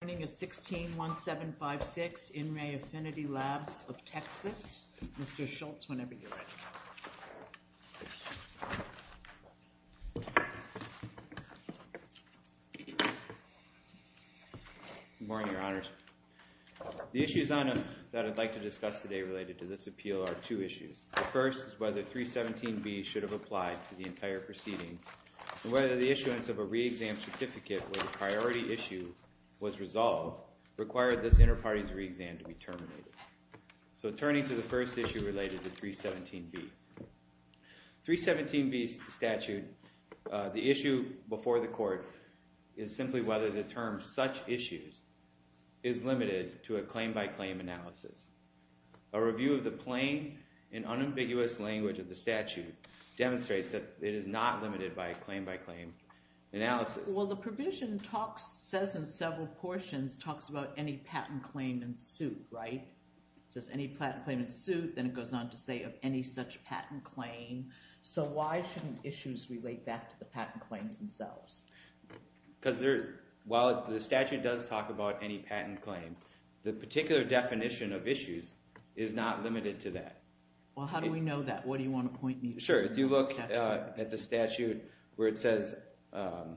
Good morning, this is 161756, In Re Affinity Labs of Texas. Mr. Schultz, whenever you're ready. Good morning, Your Honors. The issues that I'd like to discuss today related to this appeal are two issues. The first is whether 317B should have applied for the entire proceeding, and whether the issuance of a re-exam certificate where the priority issue was resolved required this inter-parties re-exam to be terminated. So turning to the first issue related to 317B. 317B statute, the issue before the court is simply whether the term such issues is limited to a claim-by-claim analysis. A review of the plain and unambiguous language of the statute demonstrates that it is not limited by a claim-by-claim analysis. Well, the provision talks, says in several portions, talks about any patent claim in suit, right? It says any patent claim in suit, then it goes on to say of any such patent claim. So why shouldn't issues relate back to the patent claims themselves? Because while the statute does talk about any patent claim, the particular definition of issues is not limited to that. Well, how do we know that? What do you want to point me to? Sure, if you look at the statute where it says on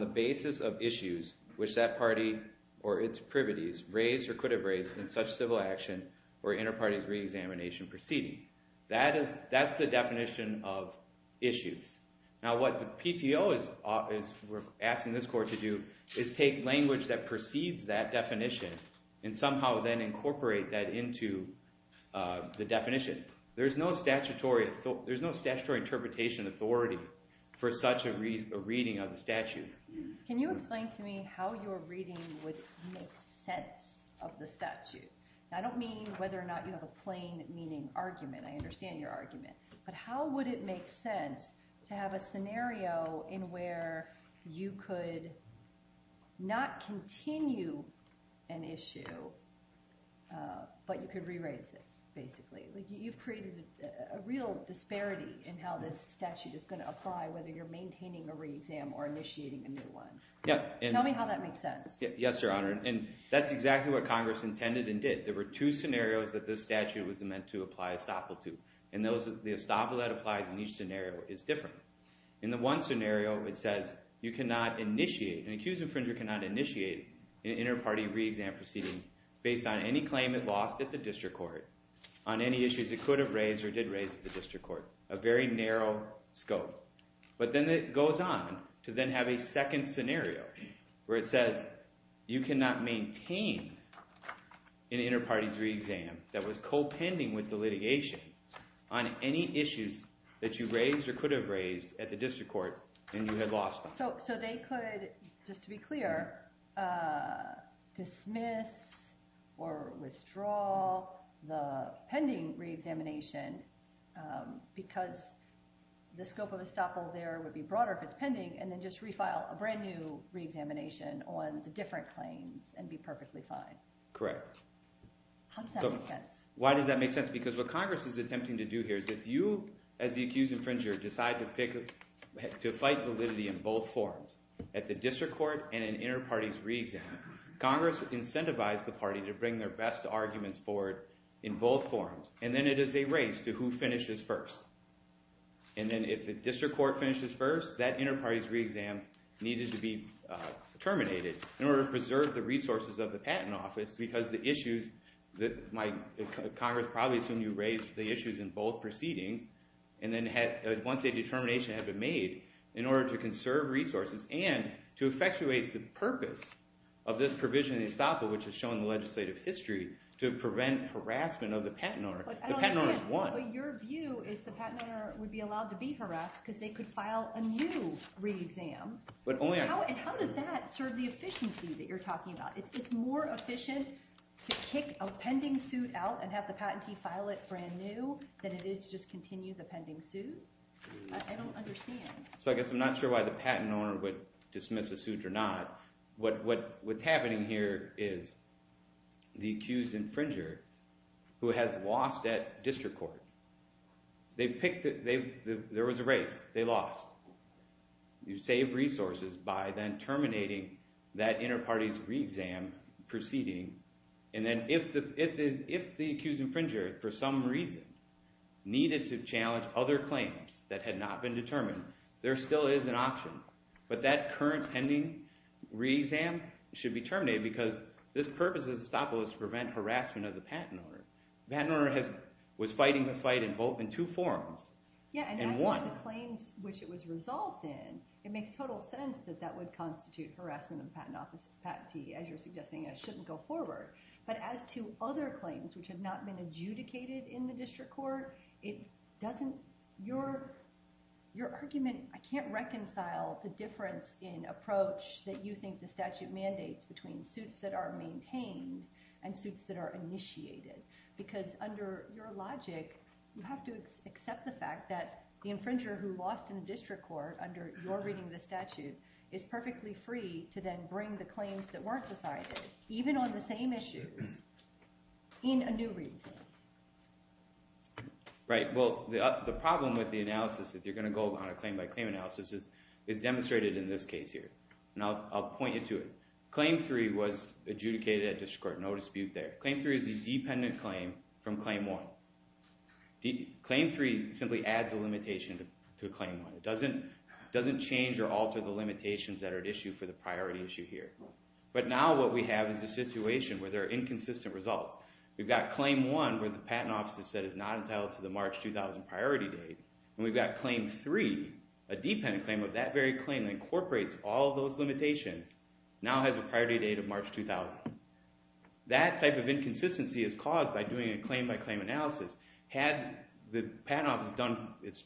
the basis of issues which that party or its privities raised or could have raised in such civil action or inter-parties re-examination proceeding. That's the definition of issues. Now, what the PTO is asking this court to do is take language that precedes that definition and somehow then incorporate that into the definition. There's no statutory interpretation authority for such a reading of the statute. Can you explain to me how your reading would make sense of the statute? I don't mean whether or not you have a plain meaning argument. I understand your argument. But how would it make sense to have a scenario in where you could not continue an issue, but you could re-raise it, basically? You've created a real disparity in how this statute is going to apply whether you're maintaining a re-exam or initiating a new one. Tell me how that makes sense. Yes, Your Honor. And that's exactly what Congress intended and did. There were two scenarios that this statute was meant to apply estoppel to. And the estoppel that applies in each scenario is different. In the one scenario, it says you cannot initiate, an accused infringer cannot initiate an inter-party re-exam proceeding based on any claim it lost at the district court, on any issues it could have raised or did raise at the district court. A very narrow scope. But then it goes on to then have a second scenario where it says you cannot maintain an inter-party re-exam that was co-pending with the litigation on any issues that you raised or could have raised at the district court and you had lost them. So they could, just to be clear, dismiss or withdraw the pending re-examination because the scope of estoppel there would be broader if it's pending and then just refile a brand new re-examination on the different claims and be perfectly fine. Correct. How does that make sense? Why does that make sense? Because what Congress is attempting to do here is if you, as the accused infringer, decide to fight validity in both forms, at the district court and an inter-party re-exam, Congress would incentivize the party to bring their best arguments forward in both forms. And then it is a race to who finishes first. And then if the district court finishes first, that inter-party re-exam needed to be terminated in order to preserve the resources of the patent office because the issues that Congress probably assumed you raised, the issues in both proceedings, and then once a determination had been made, in order to conserve resources and to effectuate the purpose of this provision in the estoppel, which is shown in the legislative history, to prevent harassment of the patent owner. The patent owner is one. But your view is the patent owner would be allowed to be harassed because they could file a new re-exam. And how does that serve the efficiency that you're talking about? It's more efficient to kick a pending suit out and have the patentee file it brand new than it is to just continue the pending suit? I don't understand. So I guess I'm not sure why the patent owner would dismiss a suit or not. What's happening here is the accused infringer, who has lost at district court, there was a race. They lost. You save resources by then terminating that inner party's re-exam proceeding. And then if the accused infringer, for some reason, needed to challenge other claims that had not been determined, there still is an option. But that current pending re-exam should be terminated because this purpose of the estoppel is to prevent harassment of the patent owner. The patent owner was fighting the fight in two forms. Yeah, and as to the claims which it was resolved in, it makes total sense that that would constitute harassment of the patentee. As you're suggesting, it shouldn't go forward. But as to other claims which have not been adjudicated in the district court, it doesn't – your argument – I can't reconcile the difference in approach that you think the statute mandates between suits that are maintained and suits that are initiated. Because under your logic, you have to accept the fact that the infringer who lost in the district court under your reading of the statute is perfectly free to then bring the claims that weren't decided, even on the same issues, in a new re-exam. Right, well, the problem with the analysis, if you're going to go on a claim-by-claim analysis, is demonstrated in this case here. And I'll point you to it. Claim three was adjudicated at district court. No dispute there. Claim three is a dependent claim from claim one. Claim three simply adds a limitation to claim one. It doesn't change or alter the limitations that are at issue for the priority issue here. But now what we have is a situation where there are inconsistent results. We've got claim one where the patent office has said it's not entitled to the March 2000 priority date. And we've got claim three, a dependent claim of that very claim that incorporates all those limitations, now has a priority date of March 2000. That type of inconsistency is caused by doing a claim-by-claim analysis. Had the patent office done its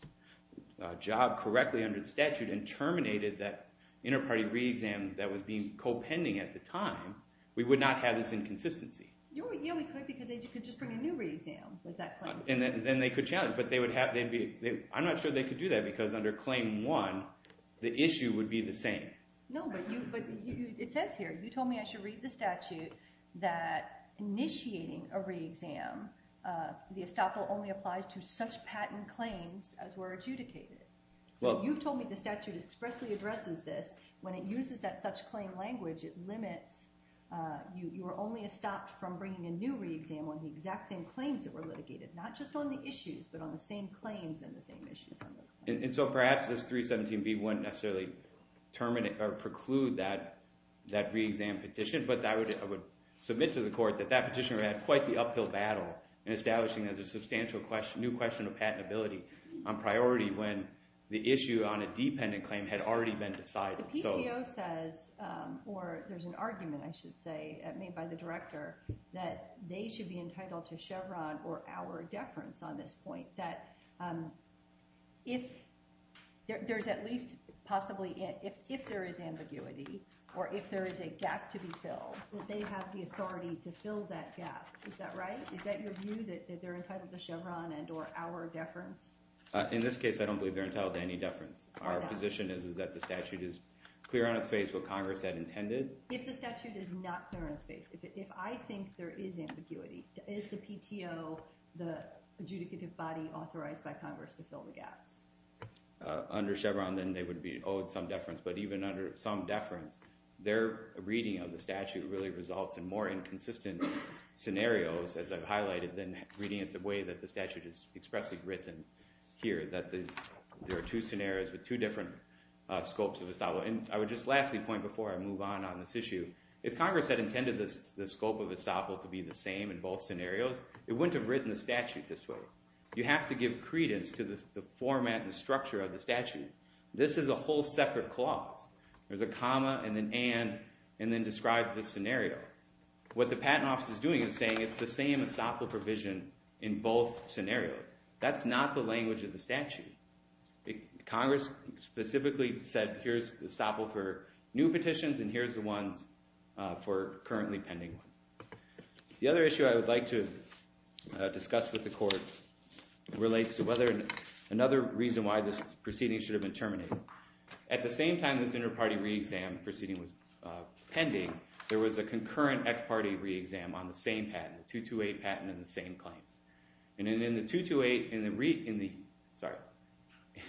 job correctly under the statute and terminated that inter-party re-exam that was being co-pending at the time, we would not have this inconsistency. Yeah, we could, because they could just bring a new re-exam with that claim. And then they could challenge it. But I'm not sure they could do that, because under claim one, the issue would be the same. No, but it says here, you told me I should read the statute that initiating a re-exam, the estoppel only applies to such patent claims as were adjudicated. So you've told me the statute expressly addresses this. When it uses that such claim language, it limits. You were only estopped from bringing a new re-exam on the exact same claims that were litigated, not just on the issues, but on the same claims and the same issues. And so perhaps this 317B wouldn't necessarily preclude that re-exam petition. But I would submit to the court that that petitioner had quite the uphill battle in establishing that there's a substantial new question of patentability on priority when the issue on a dependent claim had already been decided. The PTO says, or there's an argument, I should say, made by the director, that they should be entitled to Chevron or our deference on this point. That if there's at least possibly, if there is ambiguity or if there is a gap to be filled, that they have the authority to fill that gap. Is that right? Is that your view, that they're entitled to Chevron and or our deference? In this case, I don't believe they're entitled to any deference. Our position is that the statute is clear on its face what Congress had intended. If the statute is not clear on its face, if I think there is ambiguity, is the PTO the adjudicative body authorized by Congress to fill the gaps? Under Chevron, then, they would be owed some deference. But even under some deference, their reading of the statute really results in more inconsistent scenarios, as I've highlighted, than reading it the way that the statute is expressly written here, that there are two scenarios with two different scopes of estoppel. And I would just lastly point before I move on on this issue, if Congress had intended the scope of estoppel to be the same in both scenarios, it wouldn't have written the statute this way. You have to give credence to the format and structure of the statute. This is a whole separate clause. There's a comma and then and, and then describes the scenario. What the Patent Office is doing is saying it's the same estoppel provision in both scenarios. That's not the language of the statute. Congress specifically said here's the estoppel for new petitions and here's the ones for currently pending ones. The other issue I would like to discuss with the court relates to whether another reason why this proceeding should have been terminated. At the same time this inter-party re-exam proceeding was pending, there was a concurrent ex-parte re-exam on the same patent, 228 patent and the same claims. And in the 228, in the re, in the, sorry,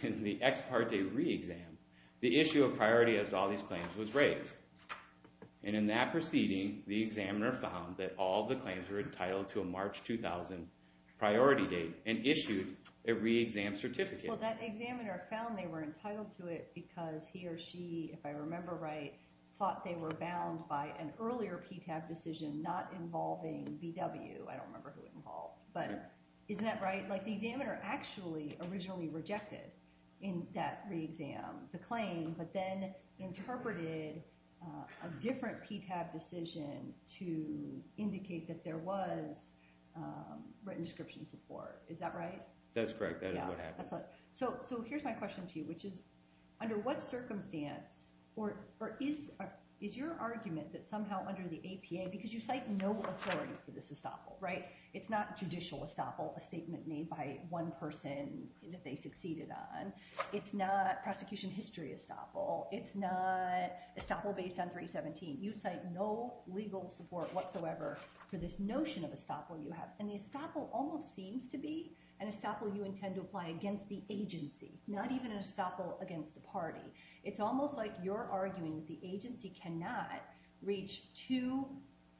in the ex-parte re-exam, the issue of priority as to all these claims was raised. And in that proceeding, the examiner found that all the claims were entitled to a March 2000 priority date and issued a re-exam certificate. Well that examiner found they were entitled to it because he or she, if I remember right, thought they were bound by an earlier PTAB decision not involving BW. I don't remember who it involved. But isn't that right? Like the examiner actually originally rejected in that re-exam the claim, but then interpreted a different PTAB decision to indicate that there was written description support. Is that right? That's correct. That is what happened. So here's my question to you, which is under what circumstance, or is your argument that somehow under the APA, because you cite no authority for this estoppel, right? It's not judicial estoppel, a statement made by one person that they succeeded on. It's not prosecution history estoppel. It's not estoppel based on 317. You cite no legal support whatsoever for this notion of estoppel you have. And the estoppel almost seems to be an estoppel you intend to apply against the agency, not even an estoppel against the party. It's almost like you're arguing the agency cannot reach two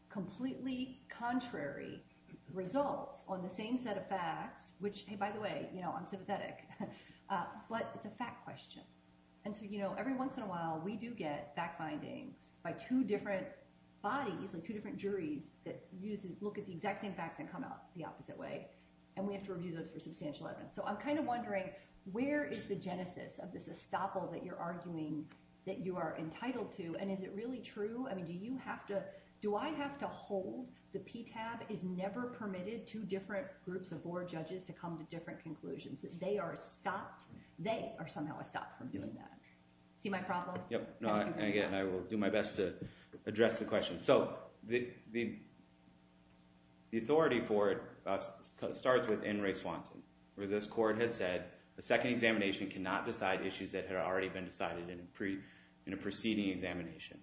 completely contrary results on the same set of facts, which, hey, by the way, I'm sympathetic, but it's a fact question. And so every once in a while we do get fact findings by two different bodies, like two different juries that look at the exact same facts and come out the opposite way, and we have to review those for substantial evidence. So I'm kind of wondering where is the genesis of this estoppel that you're arguing that you are entitled to, and is it really true? I mean, do I have to hold the PTAB is never permitted two different groups of board judges to come to different conclusions, that they are stopped? They are somehow stopped from doing that. See my problem? Yep. Again, I will do my best to address the question. So the authority for it starts with N. Ray Swanson, where this court had said a second examination cannot decide issues that had already been decided in a preceding examination.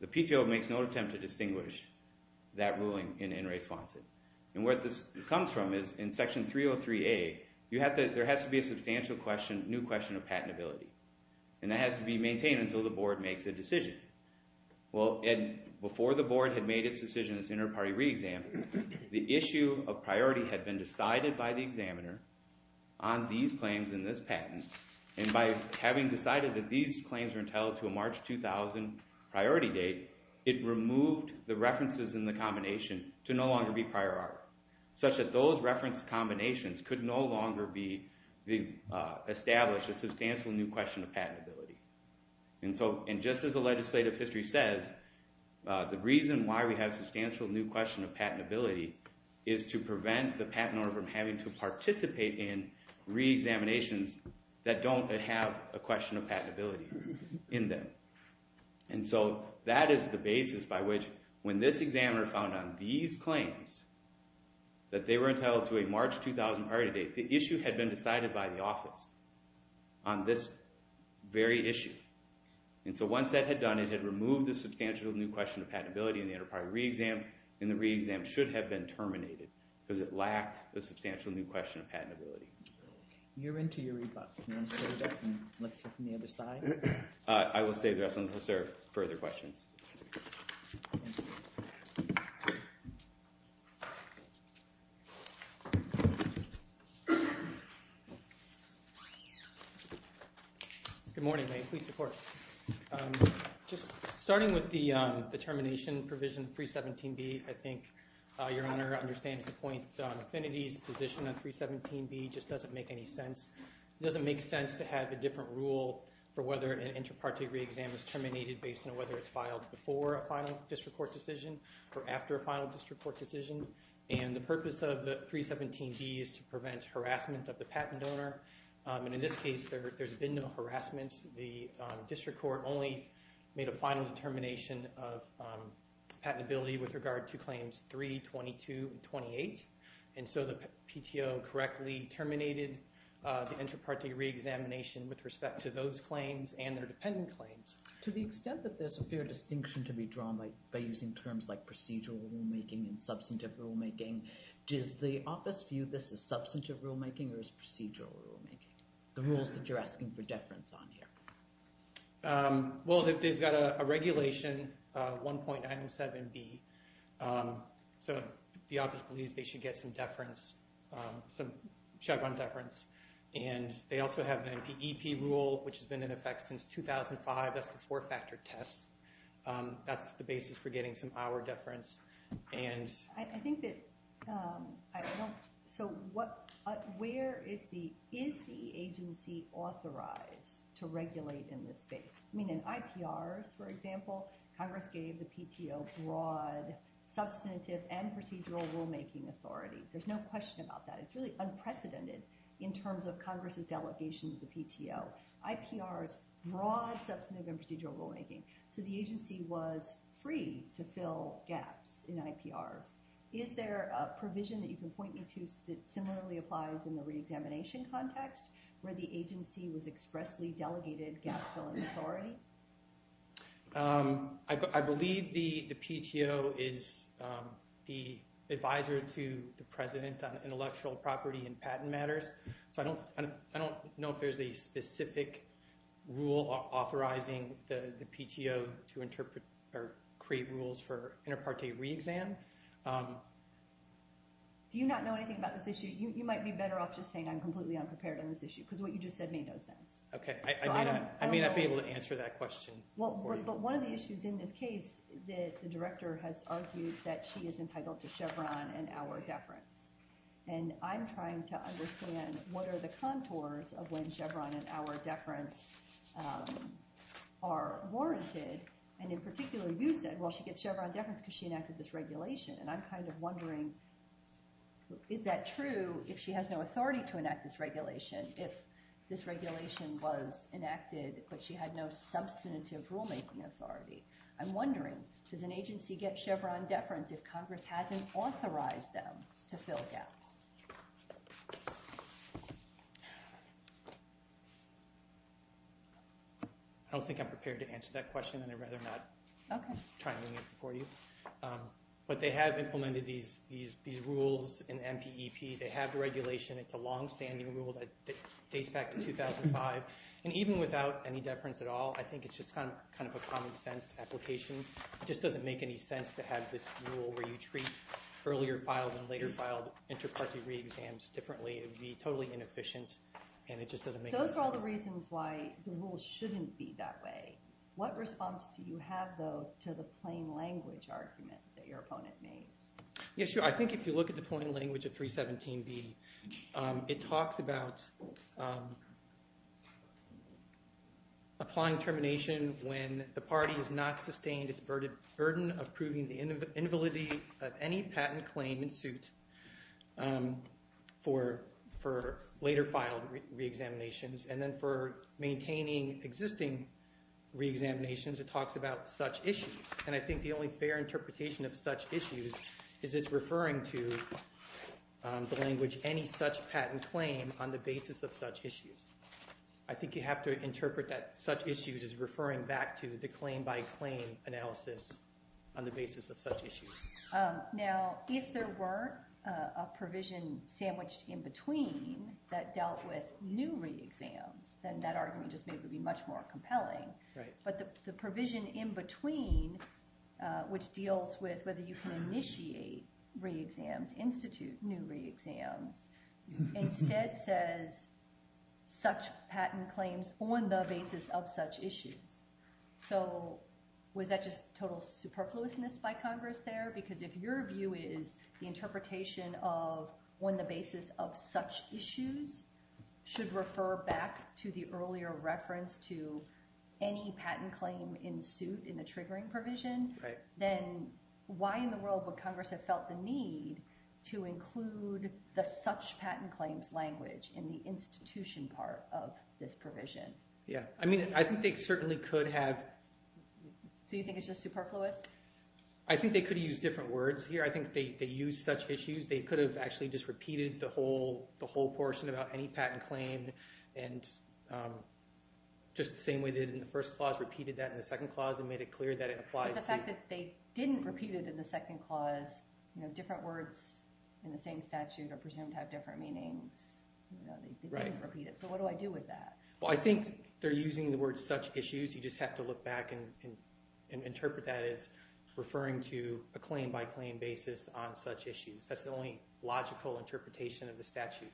The PTO makes no attempt to distinguish that ruling in N. Ray Swanson. And where this comes from is in Section 303A, there has to be a substantial new question of patentability, and that has to be maintained until the board makes a decision. Well, before the board had made its decision in this inter-party re-exam, the issue of priority had been decided by the examiner on these claims in this patent, and by having decided that these claims were entitled to a March 2000 priority date, it removed the references in the combination to no longer be prior art, such that those reference combinations could no longer establish a substantial new question of patentability. And just as the legislative history says, the reason why we have a substantial new question of patentability is to prevent the patent owner from having to participate in re-examinations that don't have a question of patentability in them. And so that is the basis by which, when this examiner found on these claims that they were entitled to a March 2000 priority date, the issue had been decided by the office on this very issue. And so once that had done, it had removed the substantial new question of patentability in the inter-party re-exam, and the re-exam should have been terminated because it lacked the substantial new question of patentability. You're into your rebuttal. Do you want to save that and let's hear from the other side? I will save the rest until there are further questions. Good morning. May it please the Court. Just starting with the termination provision 317B, I think Your Honor understands the point. Affinity's position on 317B just doesn't make any sense. It doesn't make sense to have a different rule for whether an inter-party re-exam is terminated based on whether it's filed before a final district court decision or after a final district court decision. And the purpose of the 317B is to prevent harassment of the patent donor. And in this case, there's been no harassment. The district court only made a final determination of patentability with regard to claims 3, 22, and 28. And so the PTO correctly terminated the inter-party re-examination with respect to those claims and their dependent claims. To the extent that there's a fair distinction to be drawn by using terms like procedural rulemaking and substantive rulemaking, does the office view this as substantive rulemaking or as procedural rulemaking? The rules that you're asking for deference on here. Well, they've got a regulation, 1.97B. So the office believes they should get some deference, some Chevron deference. And they also have an NPEP rule, which has been in effect since 2005. That's the four-factor test. That's the basis for getting some hour deference. I think that—so where is the agency authorized to regulate in this space? I mean, in IPRs, for example, Congress gave the PTO broad, substantive, and procedural rulemaking authority. There's no question about that. It's really unprecedented in terms of Congress's delegation to the PTO. IPR is broad, substantive, and procedural rulemaking. So the agency was free to fill gaps in IPRs. Is there a provision that you can point me to that similarly applies in the re-examination context, where the agency was expressly delegated gap-filling authority? I believe the PTO is the advisor to the president on intellectual property and patent matters. So I don't know if there's a specific rule authorizing the PTO to interpret or create rules for inter parte re-exam. Do you not know anything about this issue? You might be better off just saying I'm completely unprepared on this issue because what you just said made no sense. Okay, I may not be able to answer that question for you. But one of the issues in this case, the director has argued that she is entitled to Chevron and hour deference. And I'm trying to understand what are the contours of when Chevron and hour deference are warranted. And in particular, you said, well, she gets Chevron deference because she enacted this regulation. And I'm kind of wondering, is that true if she has no authority to enact this regulation, if this regulation was enacted but she had no substantive rule-making authority? I'm wondering, does an agency get Chevron deference if Congress hasn't authorized them to fill gaps? I don't think I'm prepared to answer that question, and I'd rather not try to answer it for you. But they have implemented these rules in MPEP. They have regulation. It's a longstanding rule that dates back to 2005. And even without any deference at all, I think it's just kind of a common-sense application. It just doesn't make any sense to have this rule where you treat earlier filed and later filed inter-party re-exams differently. It would be totally inefficient, and it just doesn't make any sense. Those are all the reasons why the rule shouldn't be that way. What response do you have, though, to the plain language argument that your opponent made? Yeah, sure. I think if you look at the plain language of 317B, it talks about applying termination when the party has not sustained its burden of proving the invalidity of any patent claim in suit for later filed re-examinations. And then for maintaining existing re-examinations, it talks about such issues. And I think the only fair interpretation of such issues is it's referring to the language any such patent claim on the basis of such issues. I think you have to interpret that such issues as referring back to the claim-by-claim analysis on the basis of such issues. Now, if there were a provision sandwiched in between that dealt with new re-exams, then that argument just may be much more compelling. But the provision in between, which deals with whether you can initiate re-exams, institute new re-exams, instead says such patent claims on the basis of such issues. So was that just total superfluousness by Congress there? Because if your view is the interpretation of on the basis of such issues should refer back to the earlier reference to any patent claim in suit in the triggering provision, then why in the world would Congress have felt the need to include the such patent claims language in the institution part of this provision? Yeah. I mean, I think they certainly could have... So you think it's just superfluous? I think they could have used different words here. I think they used such issues. They could have actually just repeated the whole portion about any patent claim and just the same way they did in the first clause, repeated that in the second clause and made it clear that it applies to... But the fact that they didn't repeat it in the second clause, different words in the same statute are presumed to have different meanings. They didn't repeat it. So what do I do with that? Well, I think they're using the word such issues. You just have to look back and interpret that as referring to a claim-by-claim basis on such issues. That's the only logical interpretation of the statute.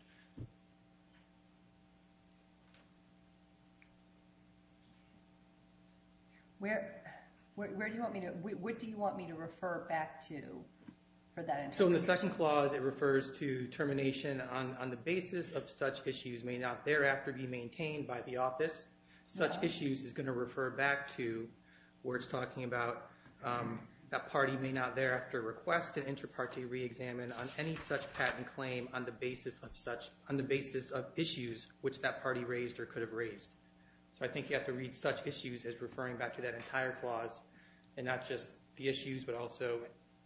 What do you want me to refer back to for that interpretation? So in the second clause, it refers to termination on the basis of such issues may not thereafter be maintained by the office. Such issues is going to refer back to where it's talking about that party may not thereafter request an inter-party re-examine on any such patent claim on the basis of issues which that party raised or could have raised. So I think you have to read such issues as referring back to that entire clause and not just the issues but also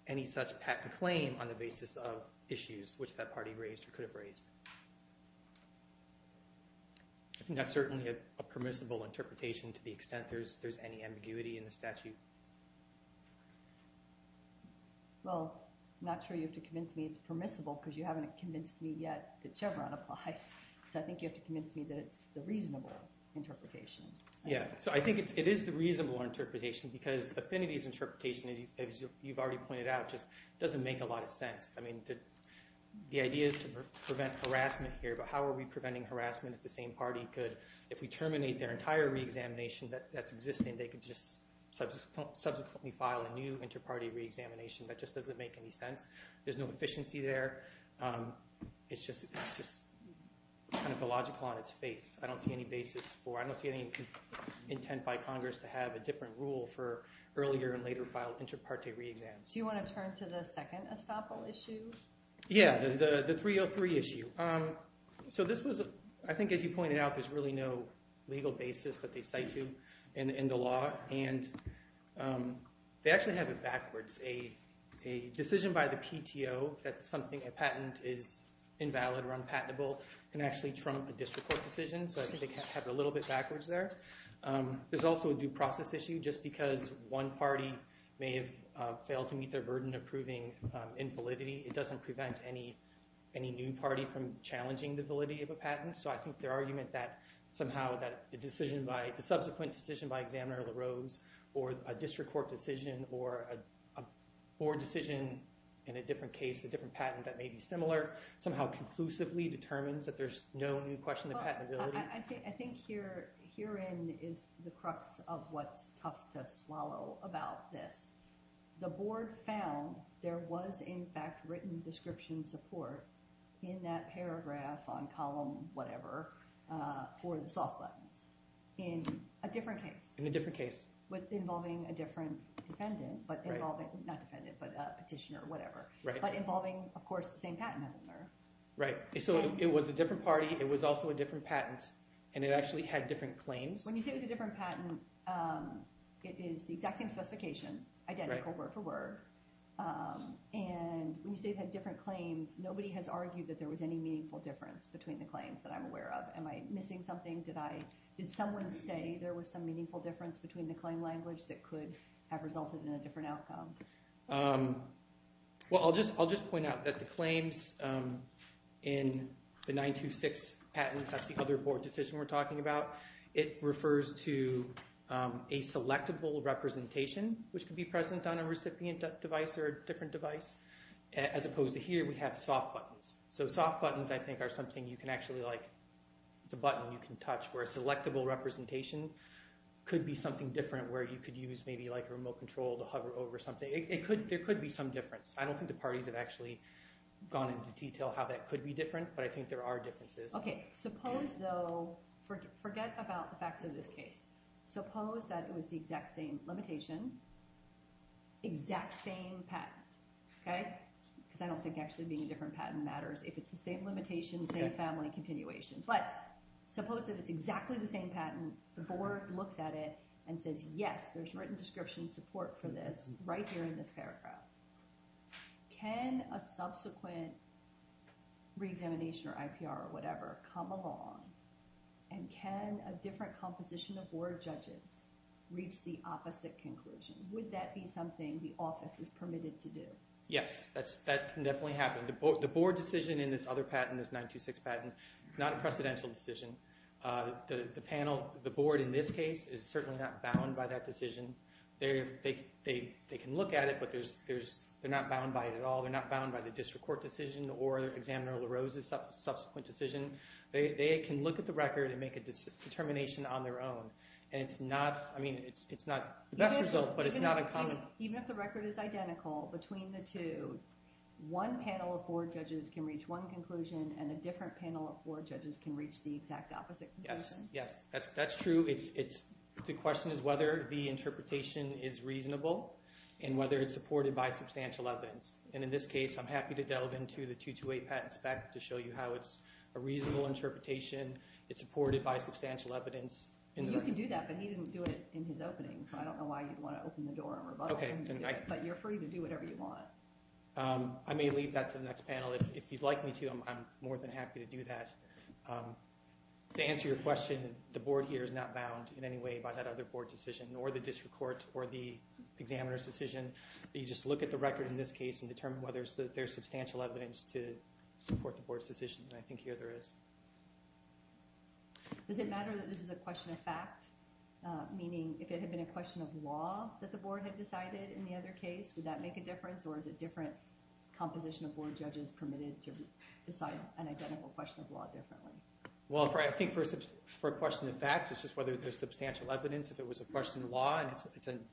any such patent claim on the basis of issues which that party raised or could have raised. That's certainly a permissible interpretation to the extent there's any ambiguity in the statute. Well, I'm not sure you have to convince me it's permissible because you haven't convinced me yet that Chevron applies. So I think you have to convince me that it's the reasonable interpretation. Yeah, so I think it is the reasonable interpretation because Affinity's interpretation, as you've already pointed out, just doesn't make a lot of sense. I mean, the idea is to prevent harassment here, but how are we preventing harassment if the same party could, if we terminate their entire re-examination that's existing, they could just subsequently file a new inter-party re-examination. That just doesn't make any sense. There's no efficiency there. It's just kind of illogical on its face. I don't see any basis for it. I don't see any intent by Congress to have a different rule for earlier and later filed inter-party re-exams. So you want to turn to the second estoppel issue? Yeah, the 303 issue. So this was, I think as you pointed out, there's really no legal basis that they cite to in the law. And they actually have it backwards. A decision by the PTO that something, a patent is invalid or unpatentable can actually trump a district court decision. So I think they have it a little bit backwards there. There's also a due process issue. Just because one party may have failed to meet their burden of proving infallibility, it doesn't prevent any new party from challenging the validity of a patent. So I think their argument that somehow that the subsequent decision by Examiner LaRose or a district court decision or a board decision in a different case, a different patent that may be similar, somehow conclusively determines that there's no new question of patentability. I think herein is the crux of what's tough to swallow about this. The board found there was, in fact, written description support in that paragraph on column whatever for the soft buttons in a different case. In a different case. Involving a different defendant. But involving, not defendant, but a petitioner or whatever. But involving, of course, the same patent holder. So it was a different party. It was also a different patent. And it actually had different claims. When you say it was a different patent, it is the exact same specification. Identical word for word. And when you say it had different claims, nobody has argued that there was any meaningful difference between the claims that I'm aware of. Am I missing something? Did someone say there was some meaningful difference between the claim language that could have resulted in a different outcome? Well, I'll just point out that the claims in the 926 patent, that's the other board decision we're talking about. It refers to a selectable representation, which could be present on a recipient device or a different device. As opposed to here, we have soft buttons. So soft buttons, I think, are something you can actually, it's a button you can touch where a selectable representation could be something different where you could use maybe a remote control to hover over something. There could be some difference. I don't think the parties have actually gone into detail how that could be different. But I think there are differences. Okay. Suppose, though, forget about the facts of this case. Suppose that it was the exact same limitation, exact same patent. Okay? Because I don't think actually being a different patent matters if it's the same limitation, same family continuation. But suppose that it's exactly the same patent. The board looks at it and says, yes, there's written description support for this right here in this paragraph. Can a subsequent re-examination or IPR or whatever come along and can a different composition of board judges reach the opposite conclusion? Would that be something the office is permitted to do? Yes, that can definitely happen. The board decision in this other patent, this 926 patent, it's not a precedential decision. The panel, the board in this case, is certainly not bound by that decision. They can look at it, but they're not bound by it at all. They're not bound by the district court decision or Examiner LaRose's subsequent decision. They can look at the record and make a determination on their own. And it's not the best result, but it's not uncommon. Even if the record is identical between the two, one panel of board judges can reach one conclusion and a different panel of board judges can reach the exact opposite conclusion? Yes, yes. That's true. The question is whether the interpretation is reasonable and whether it's supported by substantial evidence. And in this case, I'm happy to delve into the 228 patent spec to show you how it's a reasonable interpretation. It's supported by substantial evidence. You can do that, but he didn't do it in his opening, so I don't know why you'd want to open the door and rebuttal him. But you're free to do whatever you want. I may leave that to the next panel. If you'd like me to, I'm more than happy to do that. To answer your question, the board here is not bound in any way by that other board decision or the district court or the examiner's decision. You just look at the record in this case and determine whether there's substantial evidence to support the board's decision, and I think here there is. Does it matter that this is a question of fact? Meaning, if it had been a question of law that the board had decided in the other case, would that make a difference? Or is it different composition of board judges permitted to decide an identical question of law differently? Well, I think for a question of fact, it's just whether there's substantial evidence. If it was a question of law and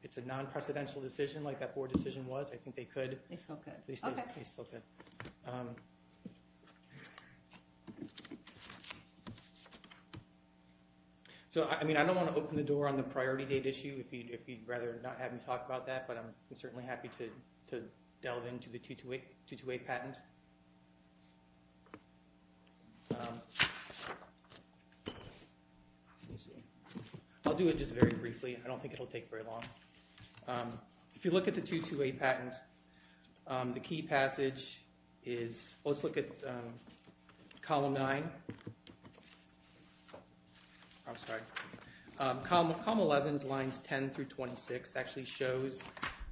it's a non-presidential decision like that board decision was, I think they could. They still could. They still could. So, I mean, I don't want to open the door on the priority date issue if you'd rather not have me talk about that, but I'm certainly happy to delve into the 228 patent. I'll do it just very briefly. I don't think it'll take very long. If you look at the 228 patent, the key passage is... Well, let's look at column 9. I'm sorry. Column 11, lines 10 through 26 actually shows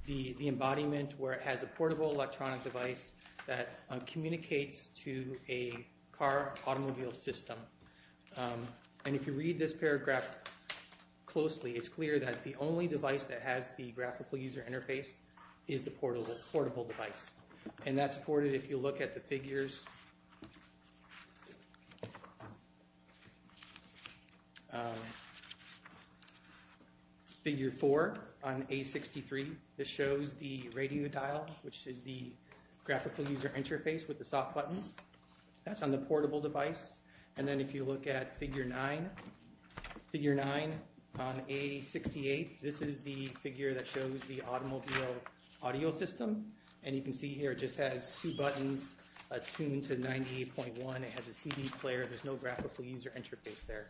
the embodiment where it has a portable electronic device that communicates to a car automobile system. And if you read this paragraph closely, it's clear that the only device that has the graphical user interface is the portable device. And that's supported if you look at the figures. Figure 4 on A63, this shows the radio dial, which is the graphical user interface with the soft buttons. That's on the portable device. And then if you look at figure 9, figure 9 on A68, this is the figure that shows the automobile audio system. And you can see here it just has two buttons. It's tuned to 98.1. It has a CD player. There's no graphical user interface there.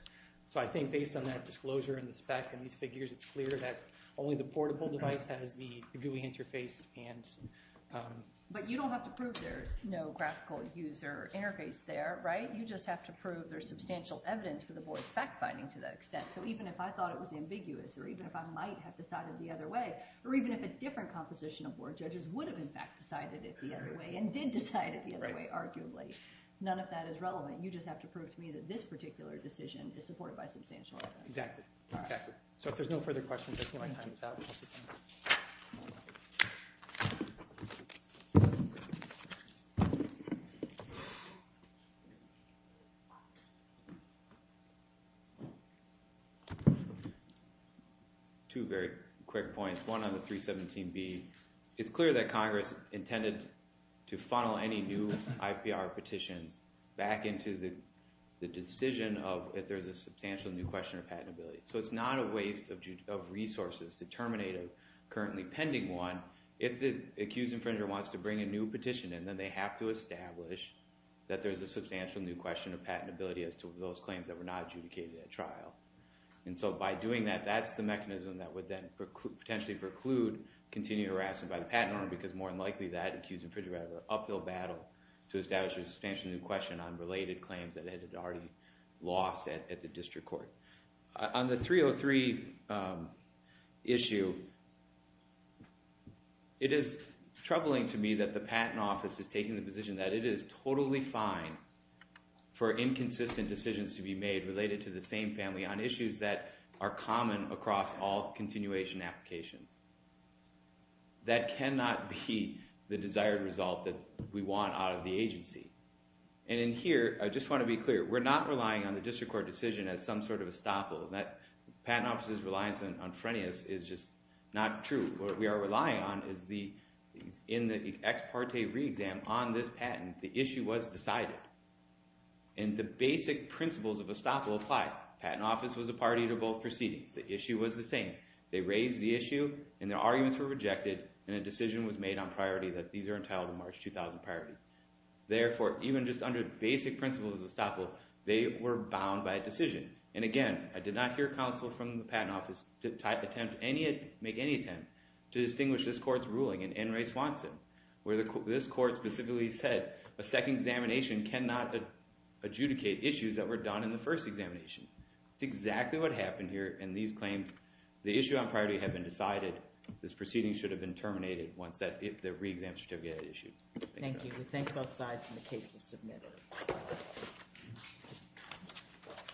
So I think based on that disclosure and the spec and these figures, it's clear that only the portable device has the GUI interface. But you don't have to prove there's no graphical user interface there, right? You just have to prove there's substantial evidence for the board's fact-finding to that extent. So even if I thought it was ambiguous, or even if I might have decided the other way, or even if a different composition of board judges would have, in fact, decided it the other way and did decide it the other way, arguably, none of that is relevant. You just have to prove to me that this particular decision is supported by substantial evidence. Exactly. So if there's no further questions, I see my time is up. Two very quick points. One on the 317B. It's clear that Congress intended to funnel any new IPR petitions back into the decision of if there's a substantial new question of patentability. So it's not a waste of resources to terminate a currently pending one if the accused infringer wants to bring a new petition in. Then they have to establish that there's a substantial new question of patentability as to those claims that were not adjudicated at trial. So by doing that, that's the mechanism that would then potentially preclude continued harassment by the patent owner because more than likely that accused infringer would have an uphill battle to establish a substantial new question on related claims that had already lost at the district court. On the 303 issue, it is troubling to me that the Patent Office is taking the position that it is totally fine for inconsistent decisions to be made related to the same family on issues that are common across all continuation applications. That cannot be the desired result that we want out of the agency. And in here, I just want to be clear. We're not relying on the district court decision as some sort of estoppel. The Patent Office's reliance on Frenius is just not true. What we are relying on is in the ex parte re-exam on this patent, the issue was decided. And the basic principles of estoppel apply. The Patent Office was a party to both proceedings. The issue was the same. They raised the issue, and their arguments were rejected, and a decision was made on priority that these are entitled to March 2000 priority. Therefore, even just under basic principles of estoppel, they were bound by a decision. And again, I did not hear counsel from the Patent Office make any attempt to distinguish this court's ruling in N. Ray Swanson, where this court specifically said a second examination cannot adjudicate issues that were done in the first examination. That's exactly what happened here. And these claims, the issue on priority had been decided. This proceeding should have been terminated once the re-exam certificate had been issued. Thank you. We thank both sides and the case is submitted.